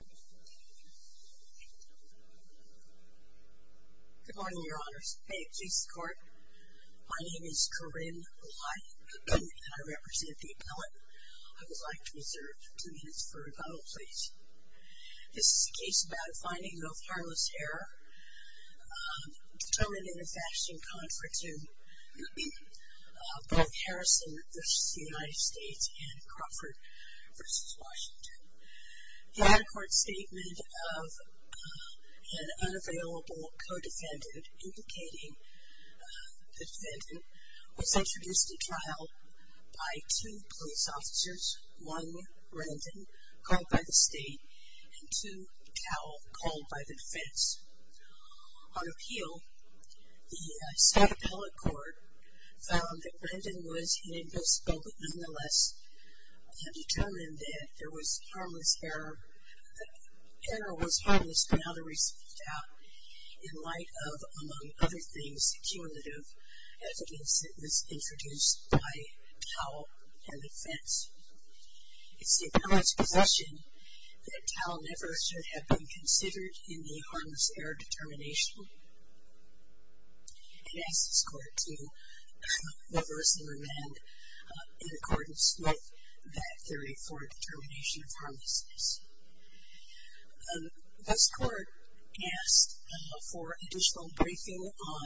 Good morning, your honors. May it please the court, my name is Corinne Lye, and I represent the appellate. I would like to reserve two minutes for rebuttal, please. This is a case about a finding of harmless error, determined in a fashion contrary to both Harrison v. Stanton's statement of an unavailable co-defendant implicating the defendant was introduced to trial by two police officers, one, Rendon, called by the state, and two, Cowell, called by the defense. On appeal, the state appellate court found that Rendon was inadmissible, but nonetheless had determined that there was harmless error, that error was harmless without a reasonable doubt, in light of, among other things, the cumulative evidence that was introduced by Cowell and the defense. It's the appellate's possession that Cowell never should have been considered in the harmless error determination. I ask this court to reverse and amend in accordance with that theory for determination of harmlessness. This court asked for additional briefing on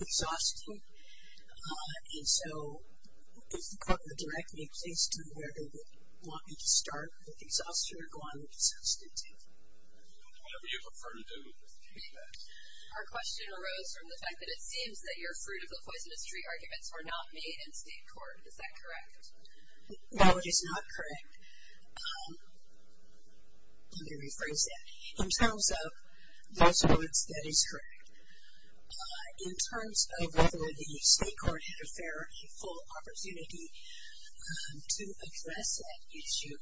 exhaustion, and so if the court would direct me please to where they would want me to start with exhaustion or go on with substance abuse. Whatever you prefer to do with this case, ma'am. Our question arose from the fact that it seems that your fruit of the poisonous tree arguments were not made in state court. Is that correct? No, it is not correct. Let me rephrase that. In terms of those words, that is correct. In terms of whether the state court had a fair and full opportunity to address that issue,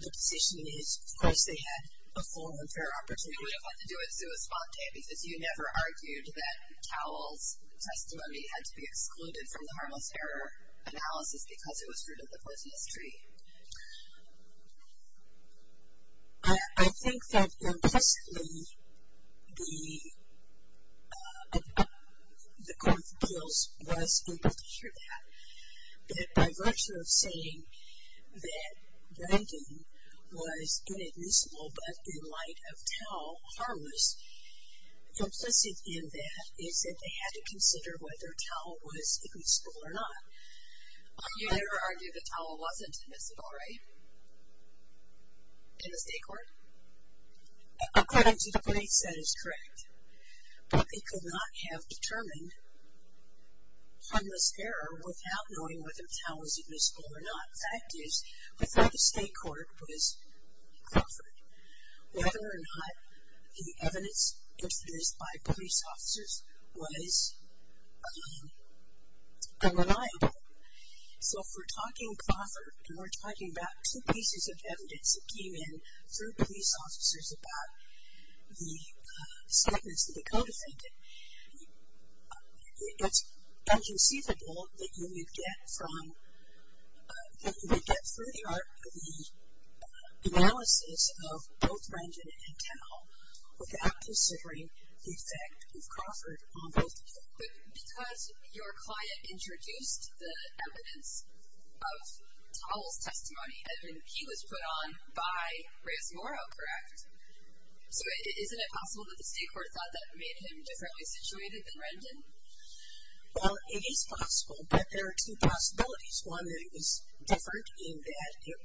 the position is, of course, they had a full and fair opportunity. We don't want to do it sui sponte because you never argued that Cowell's testimony had to be excluded from the harmless error analysis because it was fruit of the poisonous tree. I think that impressively, the Court of Appeals was able to hear that. But by virtue of saying that drinking was inadmissible, but in light of Cowell harmless, complicit in that is that they had to consider whether Cowell was admissible or not. You never argued that Cowell wasn't admissible, right? In the state court? According to the police, that is correct. But they could not have determined harmless error without knowing whether Cowell was admissible or not. The fact is, without the state court, was Crawford. Whether or not the evidence introduced by police officers was unreliable. So if we're talking Crawford and we're talking about two pieces of evidence that came in through police officers about the statements that they co-defended, it's inconceivable that you would get from, that you would get through the art of the analysis of both Brangen and Cowell without considering the effect of Crawford on both of them. But because your client introduced the evidence of Cowell's testimony, the evidence that he was put on by Reyes-Morrow, correct? So isn't it possible that the state court thought that made him differently situated than Rendon? Well, it is possible, but there are two possibilities. One that it was different in that it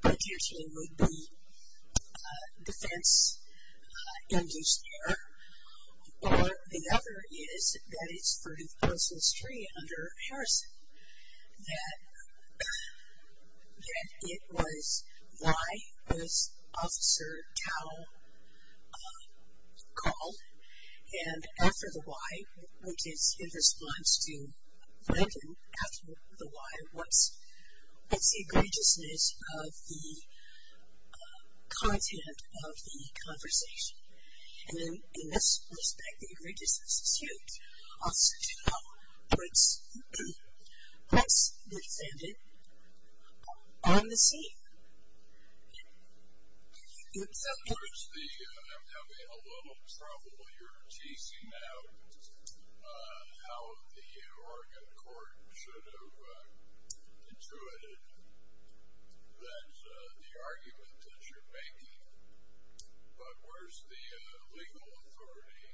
potentially would be defense-induced error. Or the other is that it's for his personal history under Harrison. That it was why was Officer Cowell called? And after the why, which is in response to Rendon, after the why, what's the egregiousness of the content of the conversation? And in this respect, the egregiousness is huge. Officer Cowell has been defended on the scene. I'm having a little trouble here teasing out how the Oregon court should have intuited that the argument that you're making, but where's the legal authority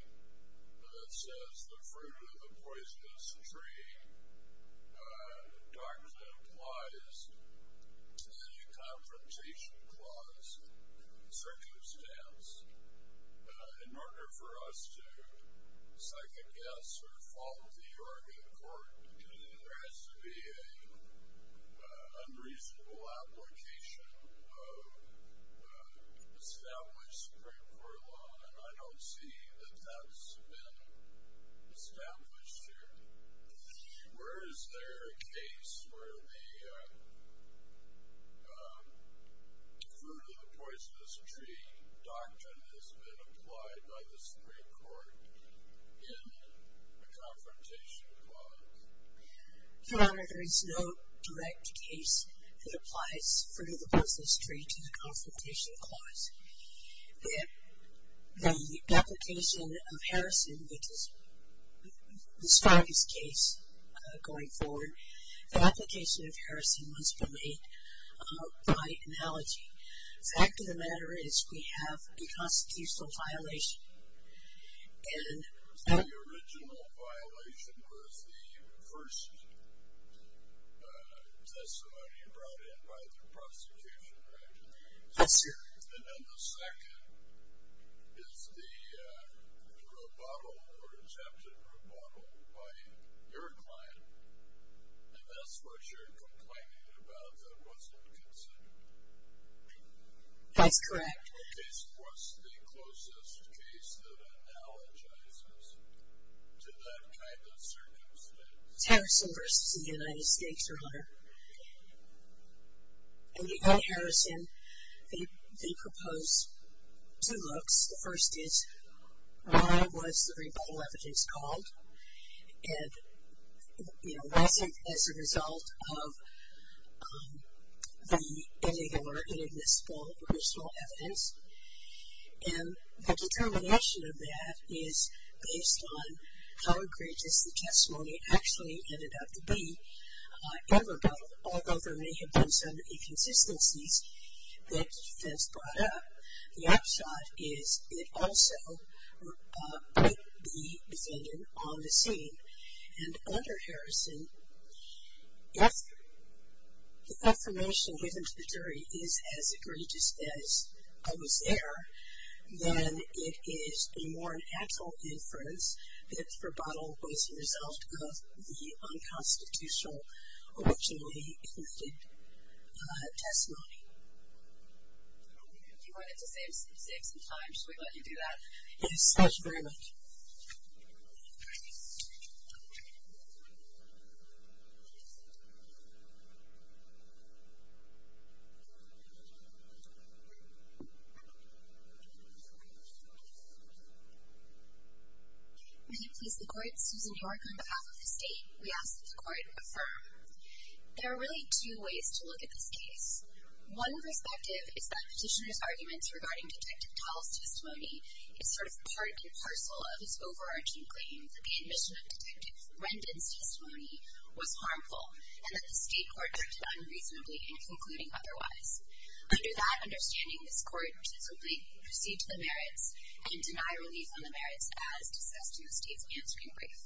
that says the fruit of the poisonous tree? Doctrine implies that a confrontation clause, circumstance, in order for us to second-guess or fault the Oregon court, there has to be an unreasonable application of established Supreme Court law, and I don't see that that's been established here. Where is there a case where the fruit of the poisonous tree doctrine has been applied by the Supreme Court in a confrontation clause? Your Honor, there is no direct case that applies fruit of the poisonous tree to the confrontation clause. The application of Harrison, which is the strongest case going forward, the application of Harrison must be made by analogy. The fact of the matter is we have a constitutional violation. The original violation was the first testimony brought in by the prosecution, right? Yes, sir. And then the second is the rebuttal or attempted rebuttal by your client, and that's what you're complaining about that wasn't considered. That's correct. What's the closest case that analogizes to that kind of circumstance? It's Harrison v. The United States, Your Honor. In Harrison, they propose two looks. The first is why was the rebuttal evidence called? It wasn't as a result of the illegal or inadmissible original evidence, and the determination of that is based on how egregious the testimony actually ended up to be in rebuttal, although there may have been some inconsistencies that's brought up. The upshot is it also could be defended on the scene. And under Harrison, if the affirmation given to the jury is as egregious as was there, then it is a more natural inference that the rebuttal was a result of the unconstitutional originally invested testimony. If you wanted to save some time, should we let you do that? Yes, thank you very much. May you please record, Susan York on behalf of the state. We ask that the court affirm. There are really two ways to look at this case. One perspective is that petitioner's arguments regarding Detective Tal's testimony is sort of part and parcel of his overarching claim that the admission of Detective Rendon's testimony was harmful and that the state court acted unreasonably in concluding otherwise. Under that understanding, this court should simply proceed to the merits and deny relief on the merits as discussed in the state's answering brief.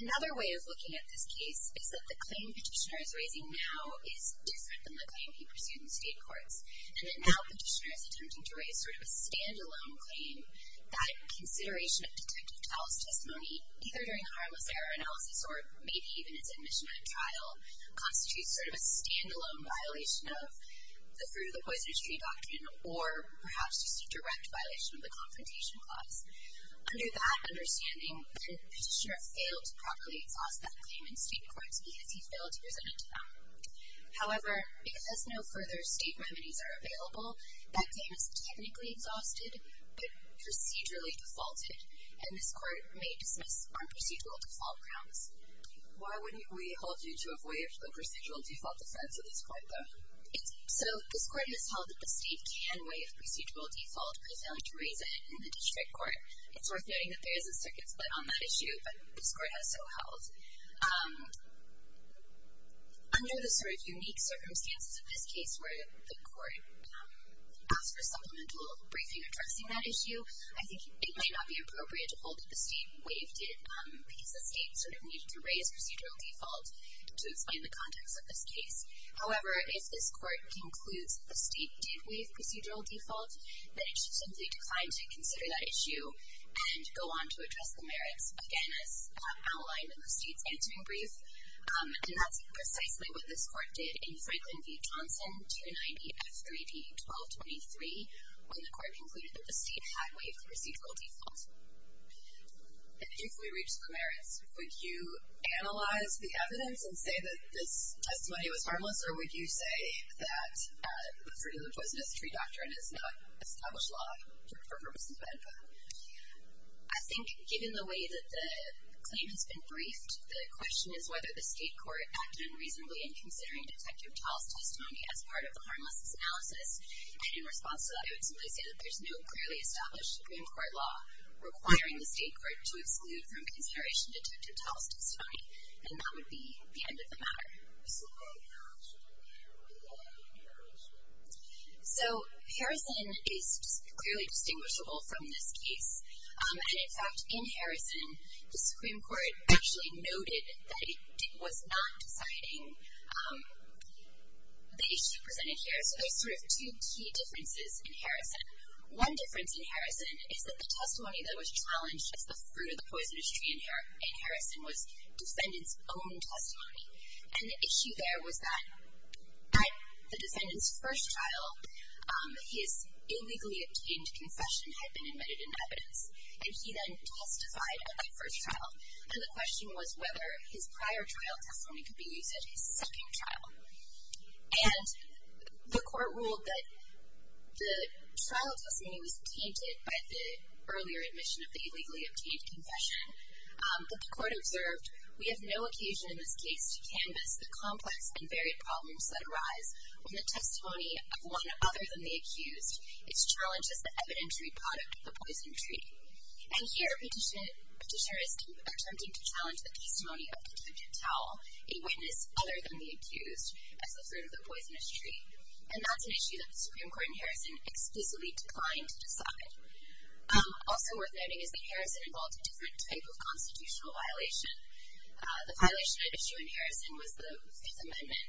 Another way of looking at this case is that the claim petitioner is raising now is different than the claim he pursued in state courts. And that now petitioner is attempting to raise sort of a stand-alone claim that consideration of Detective Tal's testimony, either during a harmless error analysis or maybe even its admission at trial, constitutes sort of a stand-alone violation of the Fruit of the Poisonous Tree Doctrine, or perhaps just a direct violation of the Confrontation Clause. Under that understanding, the petitioner failed to properly exhaust that claim in state courts because he failed to present it to them. However, because no further state remedies are available, that claim is technically exhausted but procedurally defaulted, and this court may dismiss on procedural default grounds. Why wouldn't we hold you to a way of the procedural default defense of this court, though? So this court has held that the state can waive procedural default, but failed to raise it in the district court. It's worth noting that there is a circuit split on that issue, but this court has so held. Under the sort of unique circumstances of this case where the court asked for supplemental briefing addressing that issue, I think it may not be appropriate to hold that the state waived it because the state sort of needed to raise procedural default to explain the context of this case. However, if this court concludes that the state did waive procedural default, then it should simply decline to consider that issue and go on to address the merits. Again, as outlined in the state's answering brief, and that's precisely what this court did in Franklin v. Johnson, 290 F3D 1223, when the court concluded that the state had waived the procedural default. And if we reach the merits, would you analyze the evidence for purposes of that? I think given the way that the claim has been briefed, the question is whether the state court acted unreasonably in considering Detective Tal's testimony as part of the harmlessness analysis. And in response to that, I would simply say that there's no clearly established Supreme Court law requiring the state court to exclude from consideration Detective Tal's testimony. And that would be the end of the matter. So Harrison is clearly distinguishable from this case. And, in fact, in Harrison, the Supreme Court actually noted that it was not deciding the issue presented here. So there's sort of two key differences in Harrison. One difference in Harrison is that the testimony that was challenged as the fruit of the poisonous tree in Harrison was defendants' own testimony. And the issue there was that at the defendant's first trial, his illegally obtained confession had been admitted in evidence, and he then testified at that first trial. And the question was whether his prior trial testimony could be used at his second trial. And the court ruled that the trial testimony was tainted by the earlier admission of the illegally obtained confession. But the court observed, we have no occasion in this case to canvass the complex and varied problems that arise when the testimony of one other than the accused is challenged as the evidentiary product of the poison tree. And here a petitioner is attempting to challenge the testimony of Detective Tal, a witness other than the accused, as the fruit of the poisonous tree. And that's an issue that the Supreme Court in Harrison explicitly declined to decide. Also worth noting is that Harrison involved a different type of constitutional violation. The violation at issue in Harrison was the Fifth Amendment,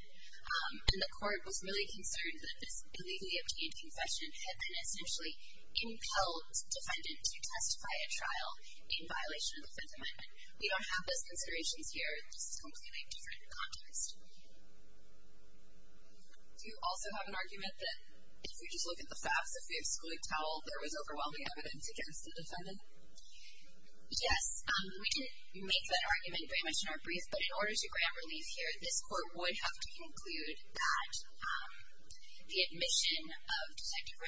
and the court was really concerned that this illegally obtained confession had been essentially impelled defendant to testify at trial in violation of the Fifth Amendment. We don't have those considerations here. This is completely different context. Do you also have an argument that if we just look at the facts, if we exclude Tal, there was overwhelming evidence against the defendant? Yes. We didn't make that argument very much in our brief, but in order to grant relief here, this court would have to conclude that the admission of Detective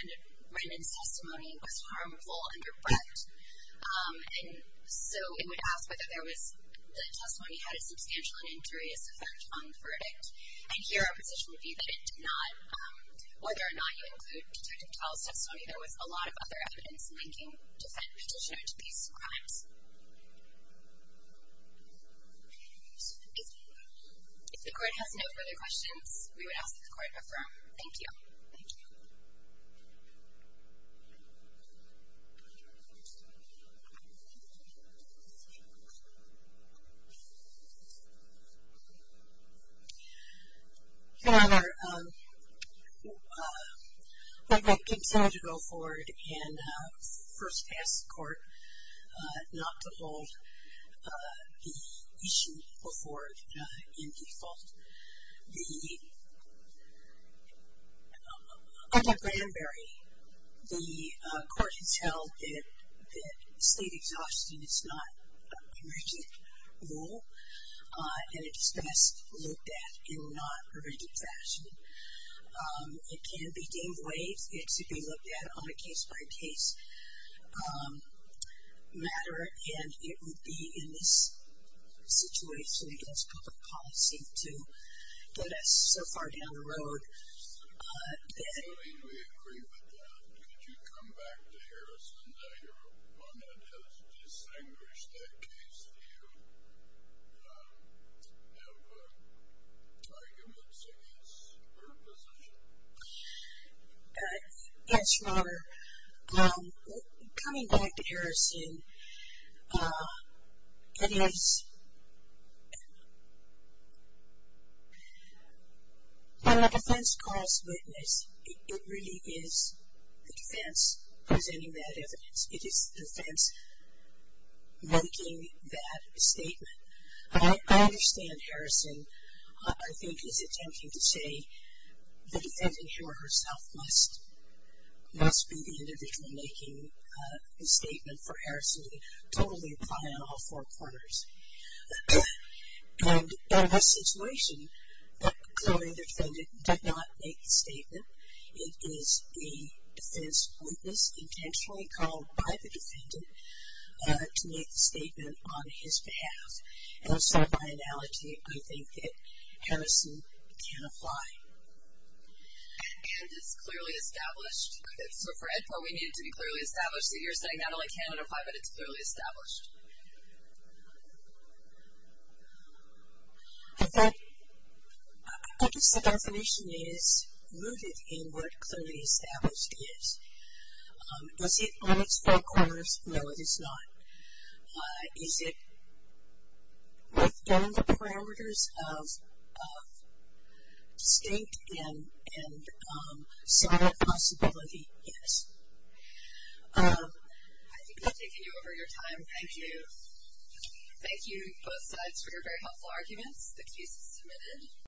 Rendon's testimony was harmful and abrupt. And so it would ask whether the testimony had a substantial and injurious effect on the verdict. And here our position would be that it did not, whether or not you include Detective Tal's testimony, there was a lot of other evidence linking defendant's admission to these crimes. If the court has no further questions, we would ask that the court affirm. Thank you. Thank you. Thank you. Good afternoon. Under Bramberry, the court has held that state exhaustion is not a provincial rule and it's best looked at in a non-provincial fashion. It can be gained weight. It should be looked at on a case-by-case matter, and it would be in this situation against public policy to get us so far down the road I mean, we agree with that. Could you come back to Harrison? Your opponent has distinguished that case. Do you have arguments against her position? Thanks, Robert. Coming back to Harrison, when a defense calls witness, it really is the defense presenting that evidence. It is the defense making that statement. I understand Harrison, I think, is attempting to say the defendant, he or herself must be the individual making the statement for Harrison to totally apply on all four corners. And in this situation, clearly the defendant did not make the statement. It is the defense witness intentionally called by the defendant to make the statement on his behalf. And so, by analogy, I think that Harrison can apply. And it's clearly established. So, Fred, what we need to be clearly established is that you're saying not only can it apply, but it's clearly established. In fact, I think the definition is rooted in what clearly established is. Is it on its four corners? No, it is not. Is it within the parameters of distinct and solid possibility? Yes. I think we've taken you over your time. Thank you. Thank you, both sides, for your very helpful arguments. The case is submitted.